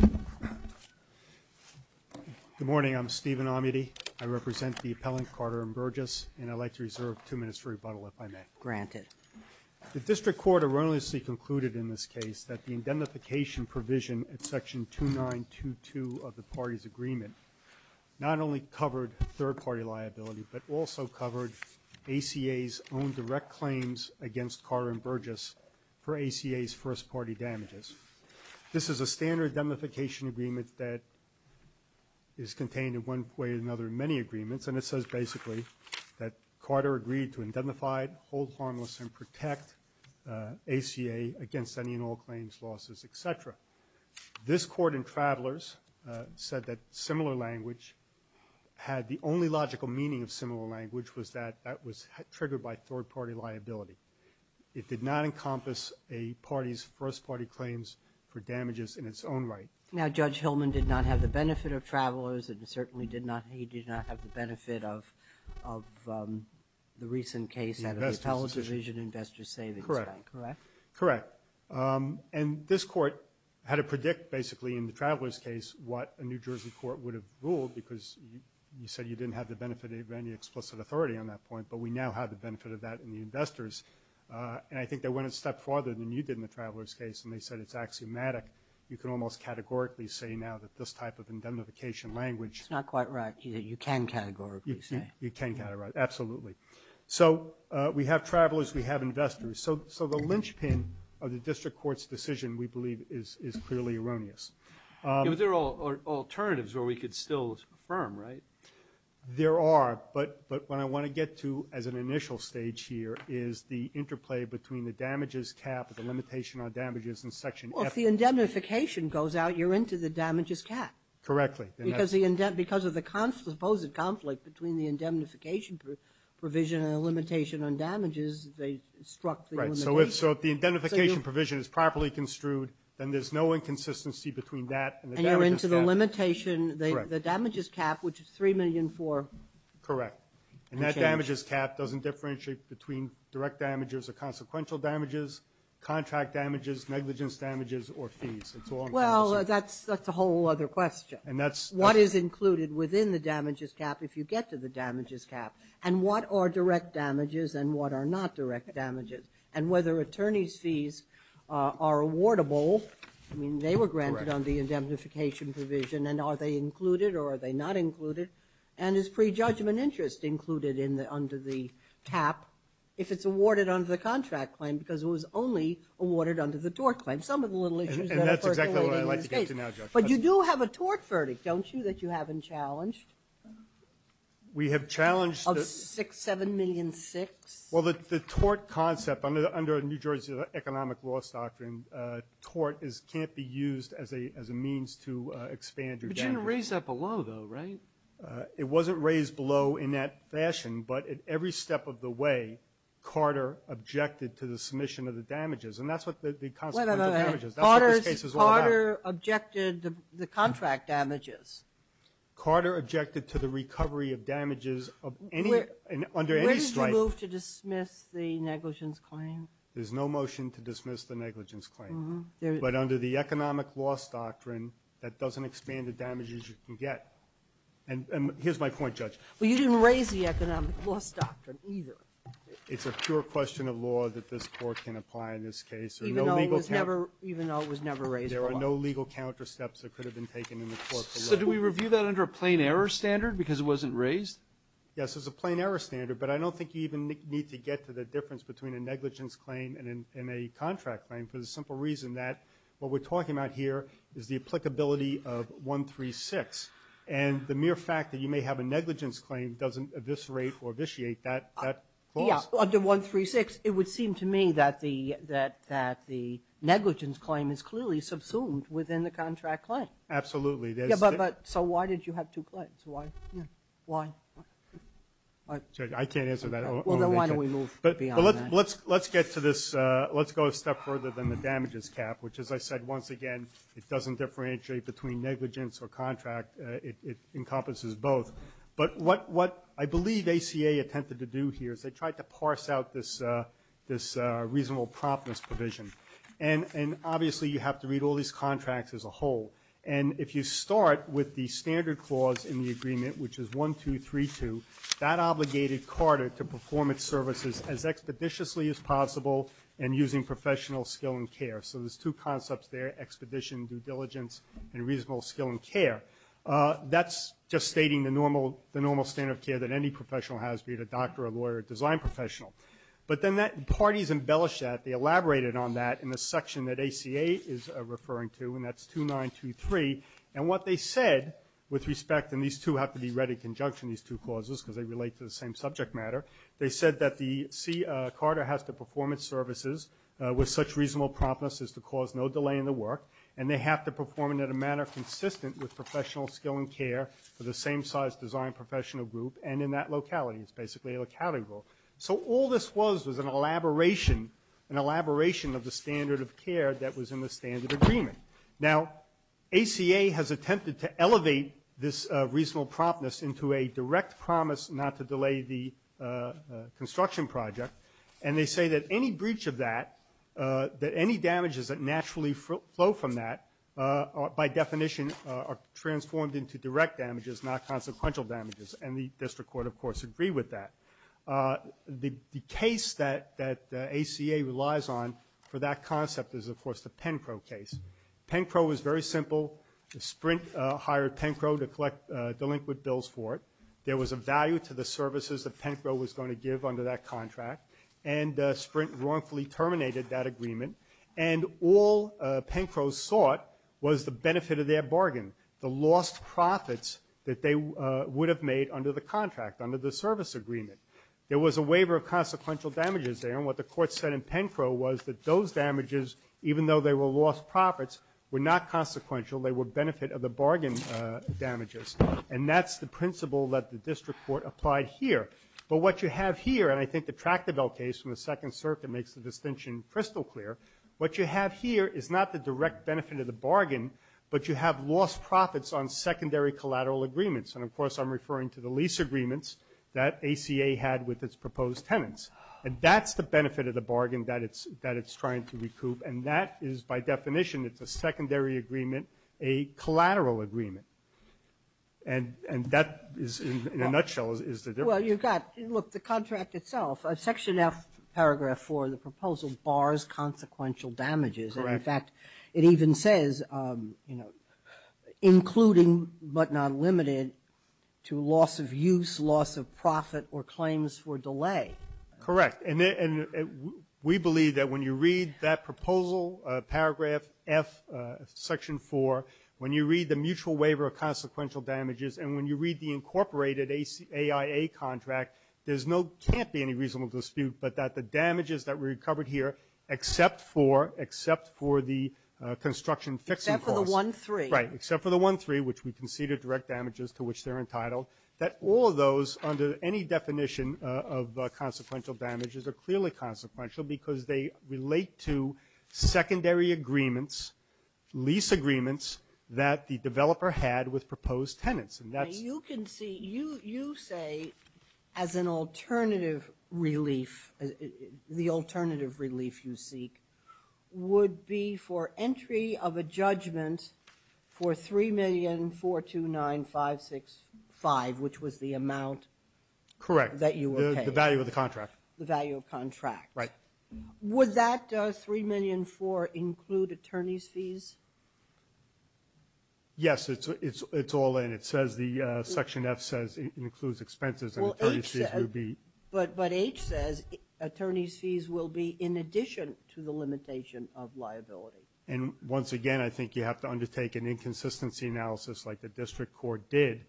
Good morning. I'm Stephen Amity. I represent the appellant Carter&Burgess, and I'd like to reserve two minutes for rebuttal, if I may. Granted. The District Court erroneously concluded in this case that the indemnification provision at Section 2922 of the parties' agreement not only covered third-party liability, but also covered ACA's own direct claims against Carter&Burgess for ACA's first-party damages. This is a standard indemnification agreement that is contained in one way or another in many agreements, and it says basically that Carter agreed to indemnify, hold harmless, and protect ACA against any and all claims, losses, etc. This court in Travelers said that similar language had the only logical meaning of similar language was that that was triggered by third-party liability. It did not encompass a party's first-party claims for damages in its own right. Now, Judge Hillman did not have the benefit of Travelers, and certainly did not, he did not have the benefit of the recent case at the Appellate Division Investor Savings Bank. Correct. Correct. And this court had to predict basically in the Travelers case what a New Jersey court would have ruled because you said you didn't have the benefit of any explicit authority on that point, but we now have the benefit of that in the Investors, and I think they went a step farther than you did in the Travelers case, and they said it's axiomatic. You can almost categorically say now that this type of indemnification language- It's not quite right. You can categorically say. You can categorically, absolutely. So we have Travelers, we have Investors. So the linchpin of the district court's decision, we believe, is clearly erroneous. Yeah, but there are alternatives where we could still affirm, right? There are, but what I want to get to as an initial stage here is the interplay between the damages cap and the limitation on damages in Section F- Well, if the indemnification goes out, you're into the damages cap. Correctly. Because the indemnification, because of the supposed conflict between the indemnification provision and the limitation on damages, they struck the limitations. Right. So if the indemnification provision is properly construed, then there's no inconsistency between that and the damages cap. And you're into the limitation, the damages cap, which is 3,000,004. Correct. And that damages cap doesn't differentiate between direct damages or consequential damages, contract damages, negligence damages, or fees. It's all inconsequential. Well, that's a whole other question. And that's- What is included within the damages cap if you get to the damages cap? And what are direct damages and what are not direct damages? And whether attorneys' fees are awardable, I mean, they were granted on the indemnification provision, and are they just included under the cap if it's awarded under the contract claim? Because it was only awarded under the tort claim. Some of the little issues that are percolating in this case. And that's exactly what I'd like to get to now, Judge. But you do have a tort verdict, don't you, that you haven't challenged? We have challenged- Of 6, 7,000,006? Well, the tort concept, under New Jersey's economic laws doctrine, tort can't be used as a means to expand your damages. But you didn't raise that below, though, right? It wasn't raised below in that fashion, but at every step of the way, Carter objected to the submission of the damages. And that's what the consequential damages- Wait a minute. Carter objected to the contract damages. Carter objected to the recovery of damages of any- under any strife- Where did you move to dismiss the negligence claim? There's no motion to dismiss the negligence claim. But under the economic laws doctrine, that doesn't expand the damages you can get. And here's my point, Judge. Well, you didn't raise the economic laws doctrine either. It's a pure question of law that this Court can apply in this case. Even though it was never- Even though it was never raised before. There are no legal counter steps that could have been taken in the court below. So do we review that under a plain error standard because it wasn't raised? Yes, there's a plain error standard. But I don't think you even need to get to the difference between a negligence claim and a contract claim for the simple reason that what we're talking about here is the applicability of 136. And the mere fact that you may have a negligence claim doesn't eviscerate or vitiate that clause. Yeah. Under 136, it would seem to me that the negligence claim is clearly subsumed within the contract claim. Absolutely. So why did you have two claims? Why? Why? I can't answer that. Well, then why don't we move beyond that? Let's get to this. Let's go a step further than the damages cap, which, as I said, once again, it doesn't differentiate between negligence or contract. It encompasses both. But what I believe ACA attempted to do here is they tried to parse out this reasonable promptness provision. And obviously, you have to read all these contracts as a whole. And if you start with the standard clause in the agreement, which is 1232, that is just stating the normal standard of care that any professional has, be it a doctor, a lawyer, a design professional. But then parties embellished that. They elaborated on that in the section that ACA is referring to. And that's 2923. And what they said, with respect, and these two have to be read in conjunction, these two clauses, because they relate to the same subject matter. They said that C. Carter has to perform its services with such reasonable promptness as to cause no delay in the work. And they have to perform it in a manner consistent with professional skill and care for the same size design professional group and in that locality. It's basically a locality rule. So all this was was an elaboration of the standard of care that was in the standard agreement. Now, ACA has attempted to elevate this reasonable promptness into a direct promise not to delay the construction project. And they say that any breach of that, that any damages that naturally flow from that, by definition, are transformed into direct damages, not consequential damages. And the district court, of course, agreed with that. The case that ACA relies on for that concept is, of course, the Pencro case. Pencro was very simple. The Sprint hired Pencro to collect delinquent bills for it. There was a value to the services that Pencro was going to give under that contract. And Sprint wrongfully terminated that agreement. And all Pencro sought was the benefit of their bargain, the lost profits that they would have made under the contract, under the service agreement. There was a waiver of consequential damages there. And what the court said in Pencro was that those damages, even though they were lost profits, were not consequential. They were benefit of the bargain damages. And that's the principle that the district court applied here. But what you have here, and I think the Tractable case from the Second Circuit makes the distinction crystal clear, what you have here is not the direct benefit of the bargain, but you have lost profits on secondary collateral agreements. And, of course, I'm referring to the lease agreements that ACA had with its proposed tenants. And that's the benefit of the bargain that it's trying to recoup. And that is, by definition, it's a secondary agreement, a collateral agreement. And that is, in a nutshell, is the difference. Well, you've got, look, the contract itself, Section F, Paragraph 4 of the proposal bars consequential damages. Correct. And, in fact, it even says, you know, including but not limited to loss of use, loss of profit, or claims for delay. Correct. And we believe that when you read that proposal, Paragraph F, Section 4, when you read the mutual waiver of consequential damages, and when you read the incorporated AIA contract, there's no, can't be any reasonable dispute, but that the damages that were recovered here, except for, except for the construction fixing costs. Except for the 1-3. Right. Except for the 1-3, which we conceded direct damages to which they're entitled. That all of those, under any definition of consequential damages, are clearly consequential, because they relate to secondary agreements, lease agreements that the developer had with proposed tenants. And that's. You can see, you, you say, as an alternative relief, the alternative relief you seek, would be for entry of a judgment for $3,004,29565, which was the amount. Correct. That you were paying. The value of the contract. The value of contract. Would that $3,004,29565 include attorney's fees? Yes, it's, it's, it's all in. It says the Section F says it includes expenses and attorney's fees will be. Well, H says, but, but H says attorney's fees will be in addition to the limitation of liability. And once again, I think you have to undertake an inconsistency analysis like the district court did,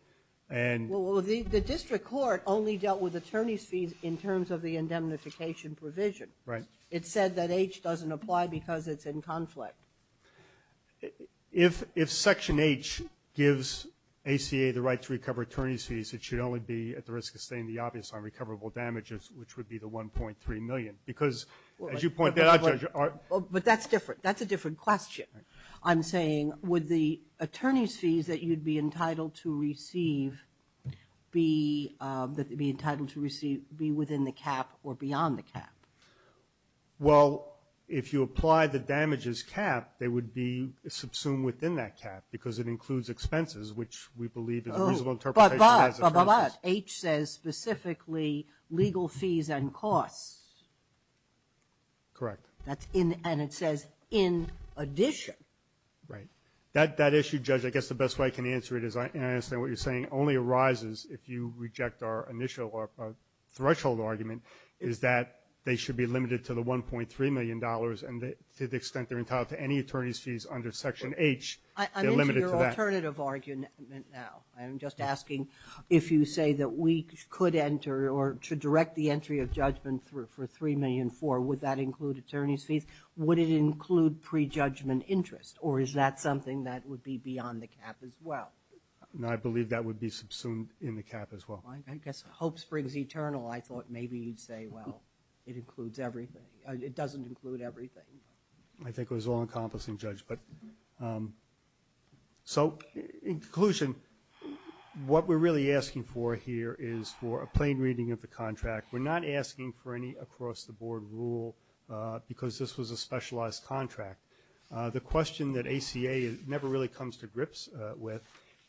and. Well, the, the district court only dealt with attorney's fees in terms of the indemnification provision. Right. It said that H doesn't apply because it's in conflict. If, if Section H gives ACA the right to recover attorney's fees, it should only be at the risk of staying the obvious on recoverable damages, which would be the $1.3 million. Because, as you pointed out, Judge, are. But that's different. That's a different question. I'm saying, would the attorney's fees that you'd be entitled to receive be, that they'd Well, if you apply the damages cap, they would be subsumed within that cap because it includes expenses, which we believe is a reasonable interpretation. But, but, but, but, H says specifically legal fees and costs. Correct. That's in, and it says in addition. Right. That, that issue, Judge, I guess the best way I can answer it is I understand what you're saying only arises if you reject our initial threshold argument, is that they should be limited to the $1.3 million, and to the extent they're entitled to any attorney's fees under Section H, they're limited to that. I'm into your alternative argument now. I'm just asking if you say that we could enter, or to direct the entry of judgment for $3.4 million, would that include attorney's fees? Would it include prejudgment interest? Or is that something that would be beyond the cap as well? No, I believe that would be subsumed in the cap as well. I guess hope springs eternal. I thought maybe you'd say, well, it includes everything. It doesn't include everything. I think it was all-encompassing, Judge. So, in conclusion, what we're really asking for here is for a plain reading of the contract. We're not asking for any across-the-board rule because this was a specialized contract. The question that ACA never really comes to grips with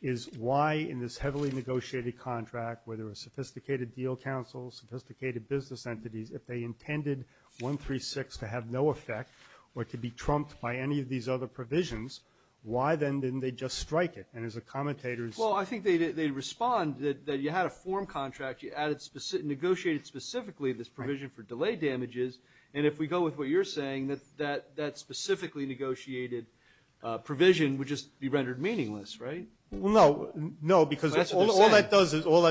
is why, in this heavily negotiated contract, where there were sophisticated deal counsels, sophisticated business entities, if they intended 136 to have no effect or to be trumped by any of these other provisions, why then didn't they just strike it? And as a commentator's— Well, I think they'd respond that you had a form contract. You negotiated specifically this provision for delay damages. And if we go with what you're saying, that that specifically negotiated provision would just be rendered meaningless, right? Well, no, because all that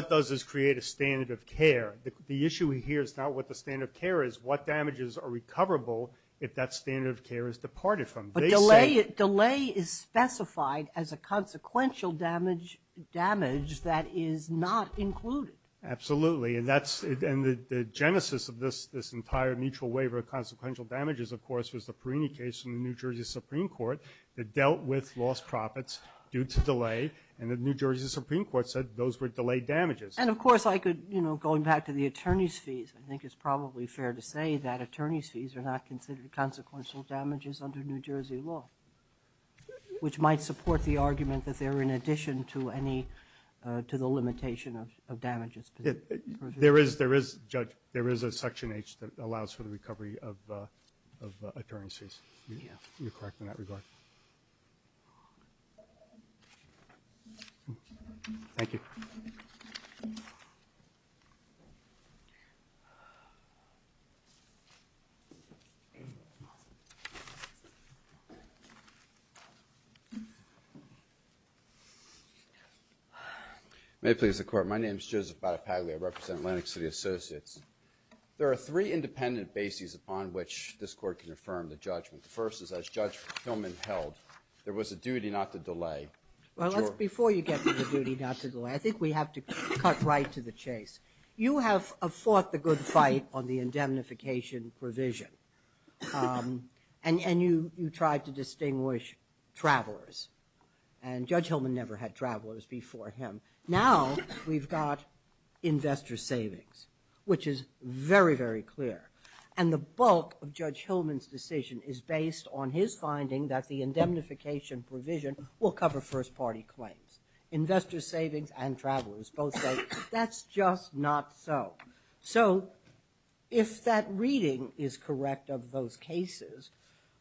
does is create a standard of care. The issue here is not what the standard of care is. What damages are recoverable if that standard of care is departed from? But delay is specified as a consequential damage that is not included. Absolutely. And the genesis of this entire mutual waiver of consequential damages, of course, was the Perini case in the New Jersey Supreme Court that dealt with lost profits due to delay. And the New Jersey Supreme Court said those were delayed damages. And, of course, I could, you know, going back to the attorney's fees, I think it's probably fair to say that attorney's fees are not considered consequential damages under New Jersey law, which might support the argument that they're in addition to any, to the limitation of damages. There is, there is, Judge, there is a Section H that allows for the recovery of attorney's fees. Yeah. You're correct in that regard. Thank you. May it please the Court. My name is Joseph Badapagli. I represent Lenox City Associates. There are three independent bases upon which this Court can affirm the judgment. The first is, as Judge Hillman held, there was a duty not to delay. Well, before you get to the duty not to delay, I think we have to cut right to the chase. You have fought the good fight on the indemnification provision. And you tried to distinguish travelers. And Judge Hillman never had travelers before him. Now we've got investor savings, which is very, very clear. And the bulk of Judge Hillman's decision is based on his finding that the indemnification provision will cover first party claims. Investor savings and travelers both say that's just not so. So if that reading is correct of those cases,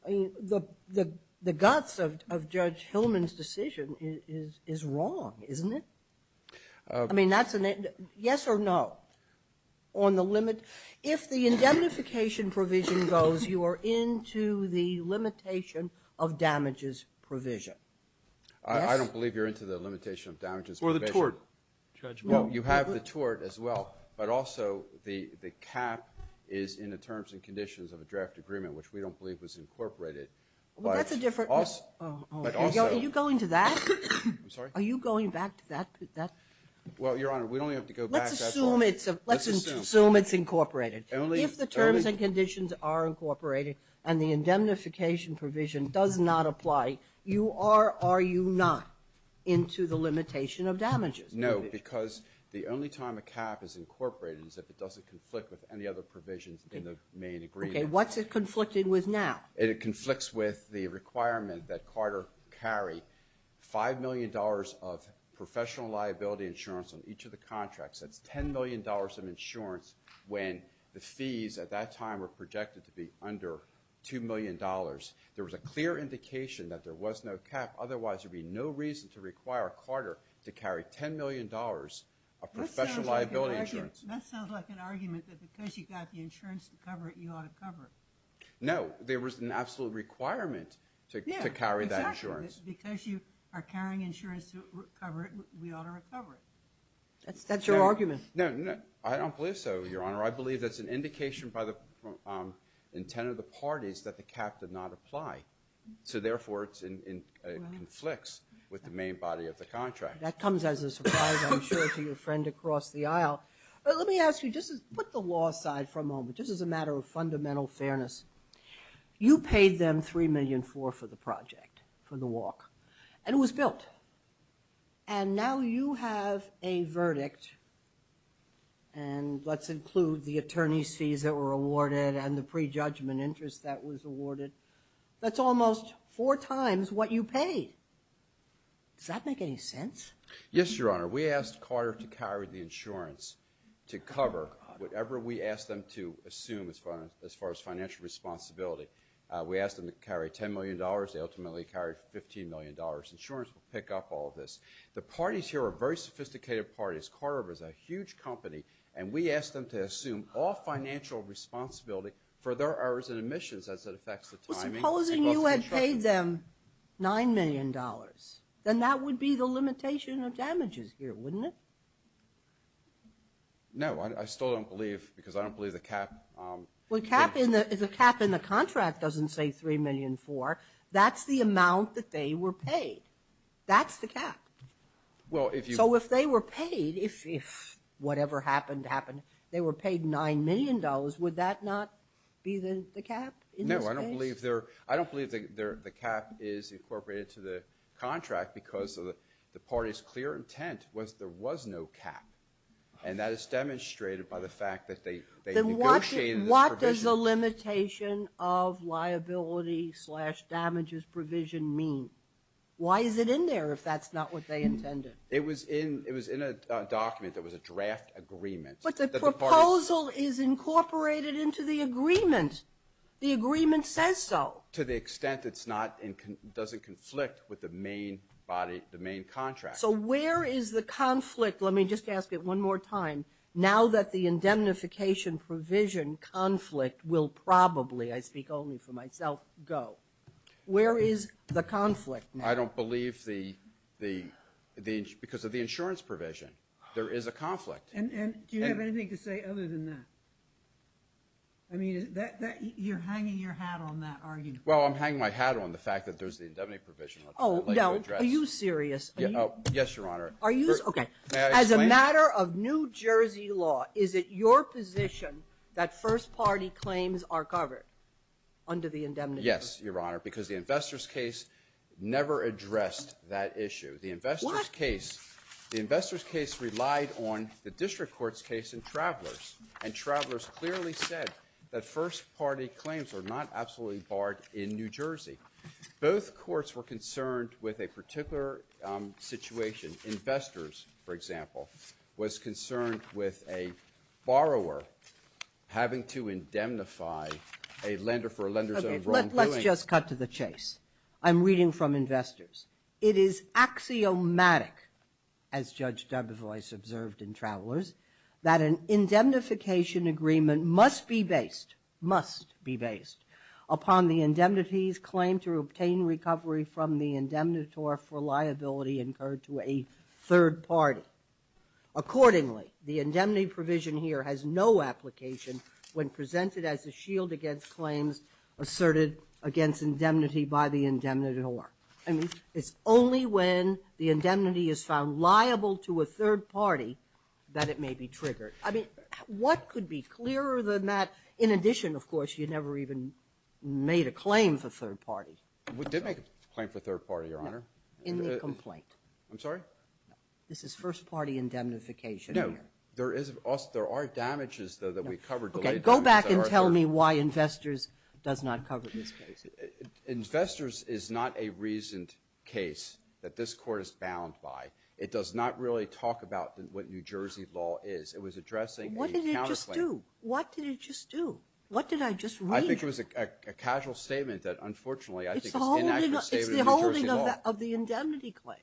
I mean, the guts of Judge Hillman's decision is wrong, isn't it? I mean, that's a yes or no on the limit. If the indemnification provision goes, you are into the limitation of damages provision. I don't believe you're into the limitation of damages provision. Or the tort judgment. You have the tort as well. But also the cap is in the terms and conditions of a draft agreement, which we don't believe was incorporated. But also Are you going to that? I'm sorry? Are you going back to that? Well, Your Honor, we don't have to go back. Let's assume it's incorporated. If the terms and conditions are incorporated and the indemnification provision does not apply, you are or you're not into the limitation of damages provision. No, because the only time a cap is incorporated is if it doesn't conflict with any other provisions in the main agreement. What's it conflicting with now? It conflicts with the requirement that Carter carry $5 million of professional liability insurance on each of the contracts. That's $10 million of insurance when the fees at that time were projected to be under $2 million. There was a clear indication that there was no cap. Otherwise, there'd be no reason to require Carter to carry $10 million of professional liability insurance. That sounds like an argument that because you got the insurance to cover it, you ought to cover it. No, there was an absolute requirement to carry that insurance. Because you are carrying insurance to cover it, we ought to recover it. That's your argument. I don't believe so, Your Honor. I believe that's an indication by the intent of the parties that the cap did not apply. So therefore, it conflicts with the main body of the contract. That comes as a surprise, I'm sure, to your friend across the aisle. But let me ask you, just put the law side for a moment. This is a matter of fundamental fairness. You paid them $3.4 million for the project, for the walk. And it was built. And now you have a verdict, and let's include the attorney's fees that were awarded and the prejudgment interest that was awarded. That's almost four times what you paid. Does that make any sense? Yes, Your Honor. We asked Carter to carry the insurance to cover whatever we asked them to assume as far as financial responsibility. We asked them to carry $10 million. They ultimately carried $15 million. Insurance will pick up all this. The parties here are very sophisticated parties. Carter is a huge company, and we asked them to assume all financial responsibility for their errors and omissions as it affects the timing. Supposing you had paid them $9 million, then that would be the limitation of damages here, wouldn't it? No, I still don't believe, because I don't believe the cap. Well, the cap in the contract doesn't say $3.4 million. That's the amount that they were paid. That's the cap. So if they were paid, if whatever happened happened, they were paid $9 million, would that not be the cap in this case? No, I don't believe the cap is incorporated to the contract because the party's clear intent was there was no cap. And that is demonstrated by the fact that they negotiated this provision. Then what does the limitation of liability slash damages provision mean? Why is it in there if that's not what they intended? It was in a document that was a draft agreement. But the proposal is incorporated into the agreement. The agreement says so. To the extent it's not and doesn't conflict with the main body, the main contract. So where is the conflict? Let me just ask it one more time. Now that the indemnification provision conflict will probably, I speak only for myself, go. Where is the conflict now? I don't believe the, because of the insurance provision, there is a conflict. And do you have anything to say other than that? I mean, you're hanging your hat on that, are you? Well, I'm hanging my hat on the fact that there's the indemnity provision. Oh, no. Are you serious? Yes, Your Honor. Are you? Okay. As a matter of New Jersey law, is it your position that first party claims are covered under the indemnity? Yes, Your Honor, because the investors case never addressed that issue. The investors case. The investors case relied on the district court's case in Travelers. And Travelers clearly said that first party claims are not absolutely barred in New Jersey. Both courts were concerned with a particular situation. Investors, for example, was concerned with a borrower having to indemnify a lender for a lender's own wrongdoing. Let's just cut to the chase. I'm reading from investors. It is axiomatic, as Judge Dubois observed in Travelers, that an indemnification agreement must be based, must be based, upon the indemnity's claim to obtain recovery from the indemnitor for liability incurred to a third party. Accordingly, the indemnity provision here has no application when presented as a shield against claims asserted against indemnity by the indemnitor. I mean, it's only when the indemnity is found liable to a third party that it may be triggered. I mean, what could be clearer than that? In addition, of course, you never even made a claim for third party. We did make a claim for third party, Your Honor. In the complaint. I'm sorry? This is first party indemnification. No, there is, there are damages, though, that we covered. Okay, go back and tell me why investors does not cover this case. Investors is not a reasoned case that this Court is bound by. It does not really talk about what New Jersey law is. It was addressing a counterclaim. What did it just do? What did it just do? What did I just read? I think it was a casual statement that, unfortunately, I think it's inaccurate statement of New Jersey law. It's the holding of the indemnity claim.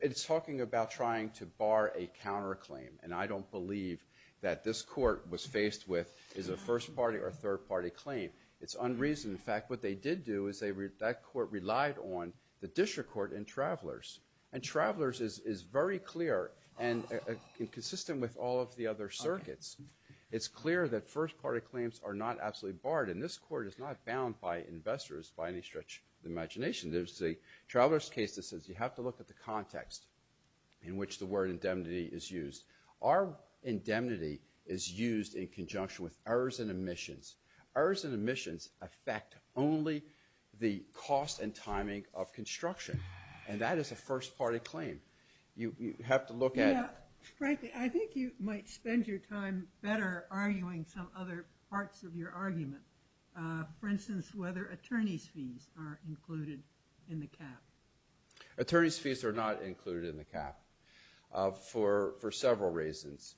It's talking about trying to bar a counterclaim. And I don't believe that this Court was faced with is a first party or third party claim. It's unreasoned. In fact, what they did do is that Court relied on the District Court and Travelers. And Travelers is very clear and consistent with all of the other circuits. It's clear that first party claims are not absolutely barred. And this Court is not bound by investors by any stretch of the imagination. There's a Travelers case that says you have to look at the context in which the word indemnity is used. Our indemnity is used in conjunction with errors and omissions. Errors and omissions affect only the cost and timing of construction. And that is a first party claim. You have to look at... Yeah, frankly, I think you might spend your time better arguing some other parts of your argument. For instance, whether attorney's fees are included in the cap. Attorney's fees are not included in the cap for several reasons.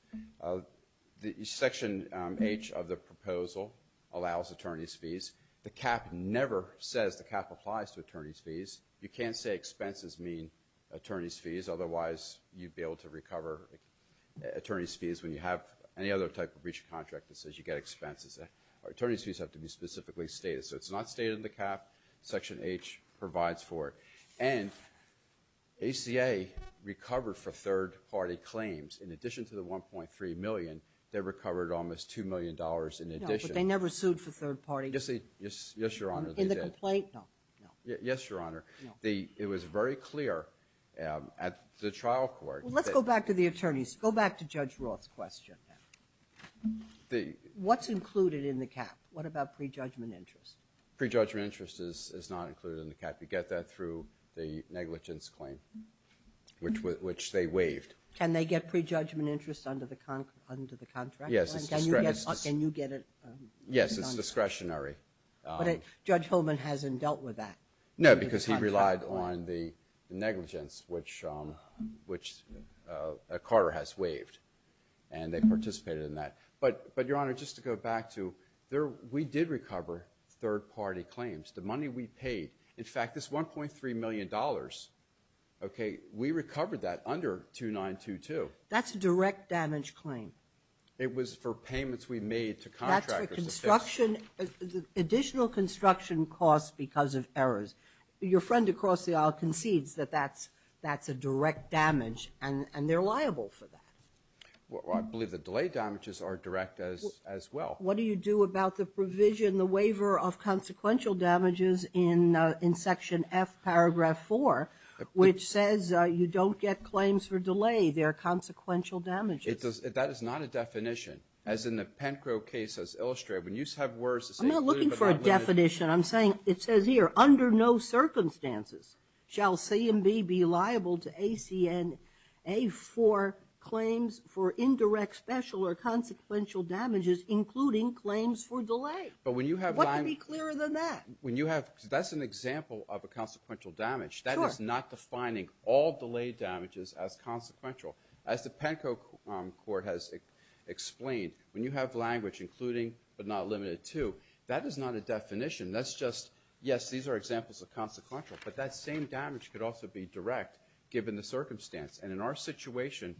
Section H of the proposal allows attorney's fees. The cap never says the cap applies to attorney's fees. You can't say expenses mean attorney's fees. Otherwise, you'd be able to recover attorney's fees when you have any other type of breach of contract that says you get expenses. Our attorney's fees have to be specifically stated. So it's not stated in the cap. Section H provides for it. And ACA recovered for third party claims. In addition to the $1.3 million, they recovered almost $2 million in addition. No, but they never sued for third party... Yes, Your Honor, they did. In the complaint? No, no. Yes, Your Honor. It was very clear at the trial court... Let's go back to the attorneys. Go back to Judge Roth's question. What's included in the cap? What about prejudgment interest? Prejudgment interest is not included in the cap. You get that through the negligence claim, which they waived. Can they get prejudgment interest under the contract? Yes, it's discretionary. But Judge Holman hasn't dealt with that. No, because he relied on the negligence, which Carter has waived. And they participated in that. But, Your Honor, just to go back to... We did recover third party claims. The money we paid... In fact, this $1.3 million, we recovered that under 2922. That's a direct damage claim. It was for payments we made to contractors. That's for construction... Additional construction costs because of errors. Your friend across the aisle concedes that that's a direct damage, and they're liable for that. I believe the delay damages are direct as well. What do you do about the provision, the waiver of consequential damages in Section F, Paragraph 4, which says you don't get claims for delay. They're consequential damages. That is not a definition, as in the Pencro case as illustrated. When you have words... I'm not looking for a definition. I'm saying it says here, under no circumstances shall CMB be liable to ACN A4 claims for indirect, special, or consequential damages, including claims for delay. But when you have... What could be clearer than that? When you have... That's an example of a consequential damage. That is not defining all delay damages as consequential. As the Pencro court has explained, when you have language, including but not limited to, that is not a definition. That's just... Yes, these are examples of consequential, but that same damage could also be direct, given the circumstance. And in our situation,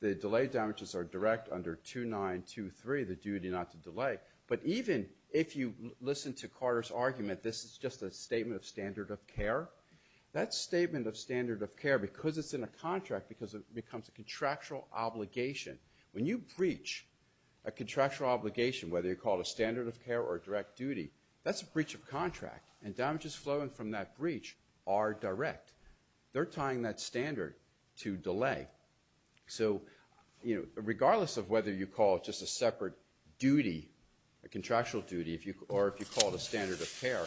the delay damages are direct under 2923, the duty not to delay. But even if you listen to Carter's argument, this is just a statement of standard of care. That statement of standard of care, because it's in a contract, because it becomes a contractual obligation. When you breach a contractual obligation, whether you call it a standard of care or a direct duty, that's a breach of contract. And damages flowing from that breach are direct. They're tying that standard to delay. So regardless of whether you call it just a separate duty, a contractual duty, or if you call it a standard of care,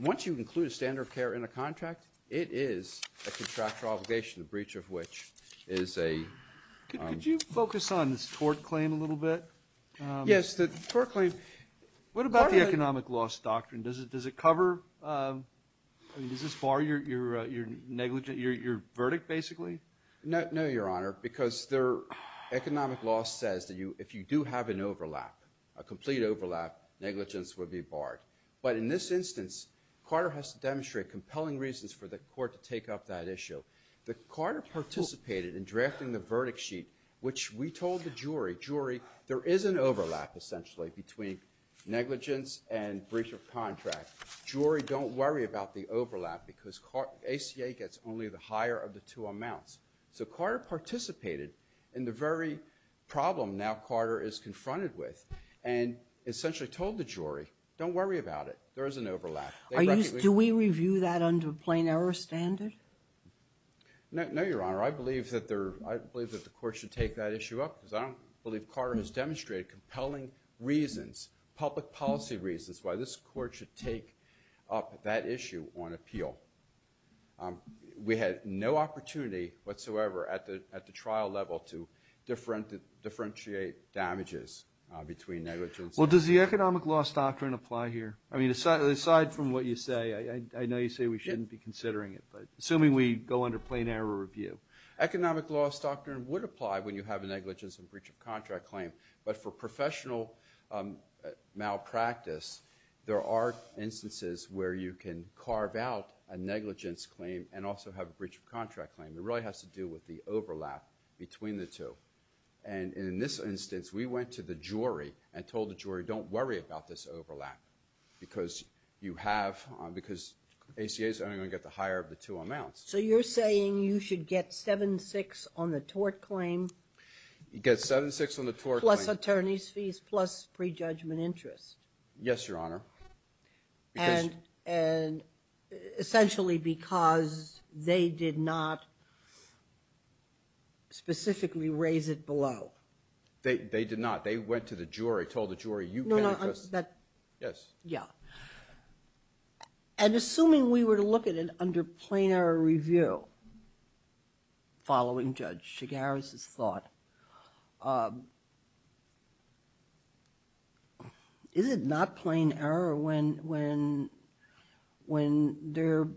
once you include a standard of care in a contract, it is a contractual obligation, the breach of which is a... Could you focus on this tort claim a little bit? Yes, the tort claim. What about the economic loss doctrine? Does it cover... Does this bar your negligence, your verdict, basically? No, Your Honor, because the economic loss says that if you do have an overlap, a complete overlap, negligence would be barred. But in this instance, Carter has to demonstrate compelling reasons for the court to take up that issue. That Carter participated in drafting the verdict sheet, which we told the jury, jury, there is an overlap, essentially, between negligence and breach of contract. Jury, don't worry about the overlap, because ACA gets only the higher of the two amounts. So Carter participated in the very problem now Carter is confronted with, and essentially told the jury, don't worry about it. There is an overlap. Do we review that under a plain error standard? No, Your Honor. I believe that the court should take that issue up, because I don't believe Carter has taken up that issue on appeal. We had no opportunity whatsoever at the trial level to differentiate damages between negligence. Well, does the economic loss doctrine apply here? I mean, aside from what you say, I know you say we shouldn't be considering it, but assuming we go under plain error review. Economic loss doctrine would apply when you have a negligence and breach of contract claim, but for professional malpractice, there are instances where you can carve out a negligence claim and also have a breach of contract claim. It really has to do with the overlap between the two. And in this instance, we went to the jury and told the jury, don't worry about this overlap, because you have, because ACA is only going to get the higher of the two amounts. So you're saying you should get 7-6 on the tort claim? You get 7-6 on the tort claim. Plus attorney's fees, plus prejudgment interest. Yes, Your Honor. And essentially because they did not specifically raise it below. They did not. They went to the jury, told the jury, you can't interest. No, no. Yes. Yeah. And assuming we were to look at it under plain error review, following Judge Chigares' thought, is it not plain error when they're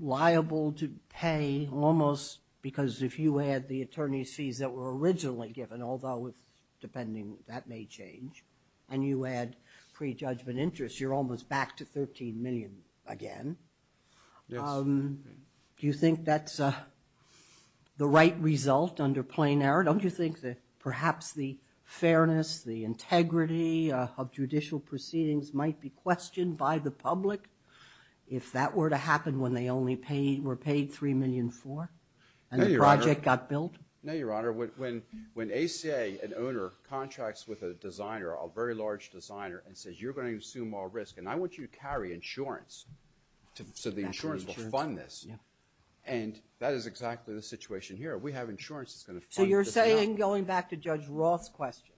liable to pay almost, because if you add the attorney's fees that were originally given, although depending, that may change, and you add prejudgment interest, you're almost back to $13 million again. Yes. Do you think that's the right result under plain error? Don't you think that perhaps the fairness, the integrity of judicial proceedings might be questioned by the public if that were to happen when they only were paid $3 million for and the project got built? No, Your Honor. When ACA, an owner, contracts with a designer, a very large designer, and says, you're going to assume all risk, and I want you to carry insurance so the insurance will fund this. And that is exactly the situation here. We have insurance that's going to fund this now. So you're saying, going back to Judge Roth's question,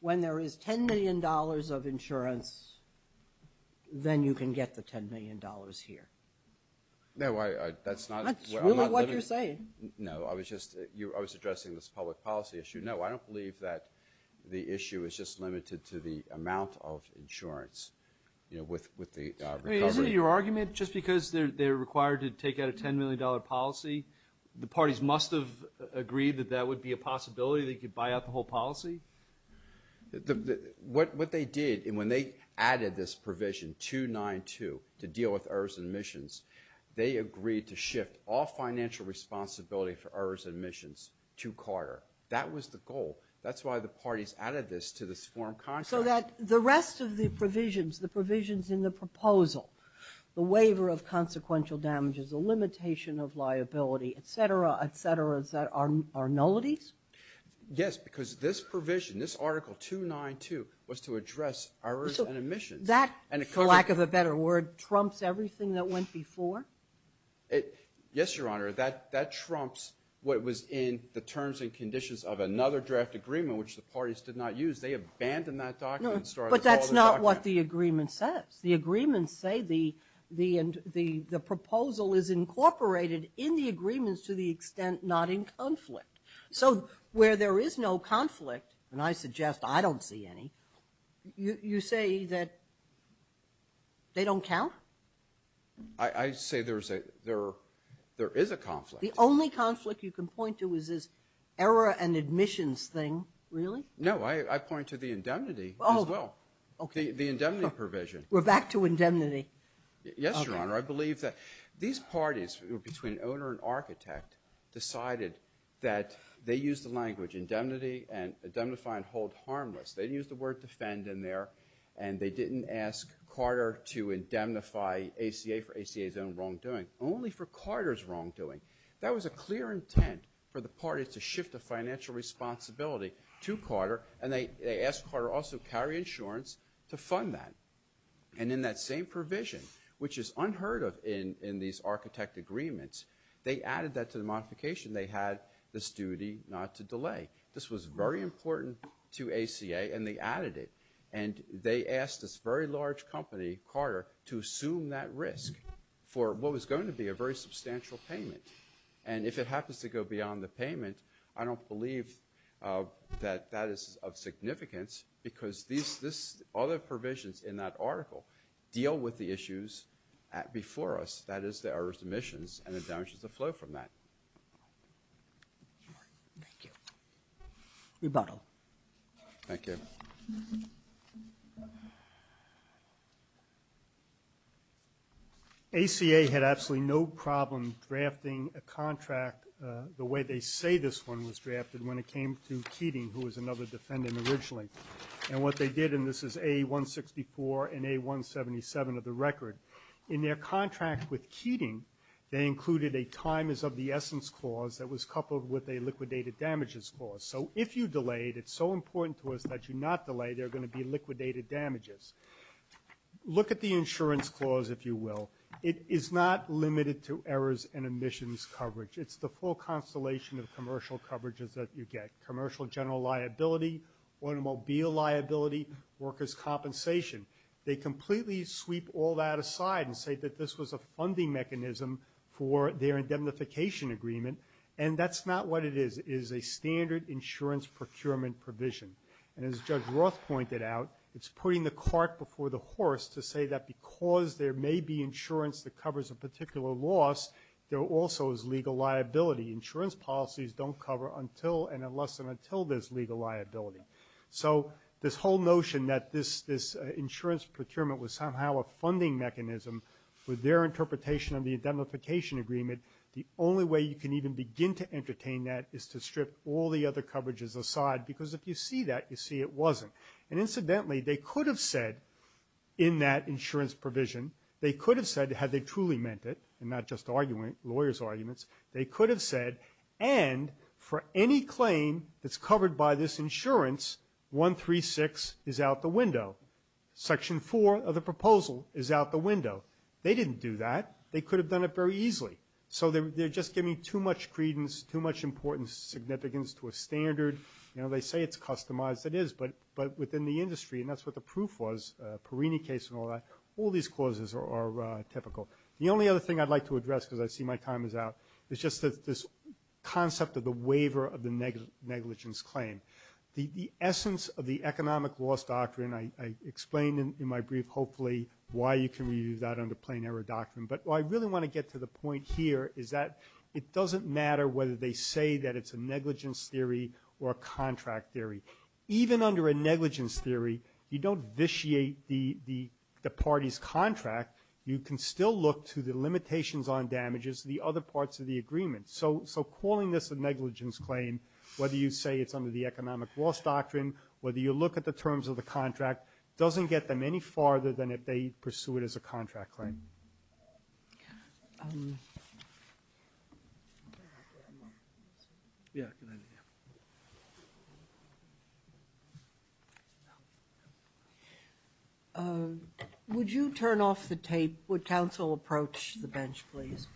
when there is $10 million of insurance, then you can get the $10 million here. No, I, that's not. That's really what you're saying. No, I was just, I was addressing this public policy issue. No, I don't believe that the issue is just limited to the amount of insurance, you know, with the recovery. Is it your argument, just because they're required to take out a $10 million policy, the parties must have agreed that that would be a possibility, they could buy out the whole policy? What they did, and when they added this provision, 292, to deal with errors and omissions, they agreed to shift all financial responsibility for errors and omissions to Carter. That was the goal. That's why the parties added this to this forum concept. So that the rest of the provisions, the provisions in the proposal, the waiver of consequential damages, the limitation of liability, et cetera, et cetera, are nullities? Yes, because this provision, this Article 292, was to address errors and omissions. That, for lack of a better word, trumps everything that went before? Yes, Your Honor, that trumps what was in the terms and conditions of another draft agreement, which the parties did not use. They abandoned that document. But that's not what the agreement says. The agreements say the proposal is incorporated in the agreements to the extent not in conflict. So where there is no conflict, and I suggest I don't see any, you say that they don't count? I say there is a conflict. The only conflict you can point to is this error and omissions thing, really? No. I point to the indemnity as well. Oh, okay. The indemnity provision. We're back to indemnity. Yes, Your Honor. These parties, between owner and architect, decided that they used the language indemnity and indemnify and hold harmless. They used the word defend in there. And they didn't ask Carter to indemnify ACA for ACA's own wrongdoing, only for Carter's wrongdoing. That was a clear intent for the parties to shift the financial responsibility to Carter. And they asked Carter also to carry insurance to fund that. And in that same provision, which is unheard of in these architect agreements, they added that to the modification. They had this duty not to delay. This was very important to ACA, and they added it. And they asked this very large company, Carter, to assume that risk for what was going to be a very substantial payment. And if it happens to go beyond the payment, I don't believe that that is of significance because these other provisions in that article deal with the issues before us. That is, there are omissions, and it damages the flow from that. Thank you. Rebuttal. Thank you. ACA had absolutely no problem drafting a contract the way they say this one was drafted when it came to Keating, who was another defendant originally. And what they did, and this is A-164 and A-177 of the record. In their contract with Keating, they included a time is of the essence clause that was coupled with a liquidated damages clause. So if you delayed, it's so important to us that you not delay. There are going to be liquidated damages. Look at the insurance clause, if you will. It is not limited to errors and omissions coverage. It's the full constellation of commercial coverages that you get, commercial general liability, automobile liability, workers' compensation. They completely sweep all that aside and say that this was a funding mechanism for their indemnification agreement. And that's not what it is. It is a standard insurance procurement provision. And as Judge Roth pointed out, it's putting the cart before the horse to say that because there may be insurance that covers a particular loss, there also is legal liability. Insurance policies don't cover until and unless and until there's legal liability. So this whole notion that this insurance procurement was somehow a funding mechanism with their interpretation of the indemnification agreement, the only way you can even begin to entertain that is to strip all the other coverages aside. Because if you see that, you see it wasn't. And incidentally, they could have said in that insurance provision, they could have said, had they truly meant it, and not just arguing lawyers' arguments, they could have said, and for any claim that's covered by this insurance, 136 is out the window. Section 4 of the proposal is out the window. They didn't do that. They could have done it very easily. So they're just giving too much credence, too much importance, significance to a standard. You know, they say it's customized. It is. But within the industry, and that's what the proof was, Perrini case and all that, all these clauses are typical. The only other thing I'd like to address, because I see my time is out, is just this concept of the waiver of the negligence claim. The essence of the economic loss doctrine, I explained in my brief, hopefully, why you can review that under plain error doctrine. But what I really want to get to the point here is that it doesn't matter whether they say that it's a negligence theory or a contract theory. Even under a negligence theory, you don't vitiate the party's contract. You can still look to the limitations on damages, the other parts of the agreement. So calling this a negligence claim, whether you say it's under the economic loss doctrine, whether you look at the terms of the contract, doesn't get them any farther than if they pursue it as a contract claim. Yeah. Would you turn off the tape? Would counsel approach the bench, please?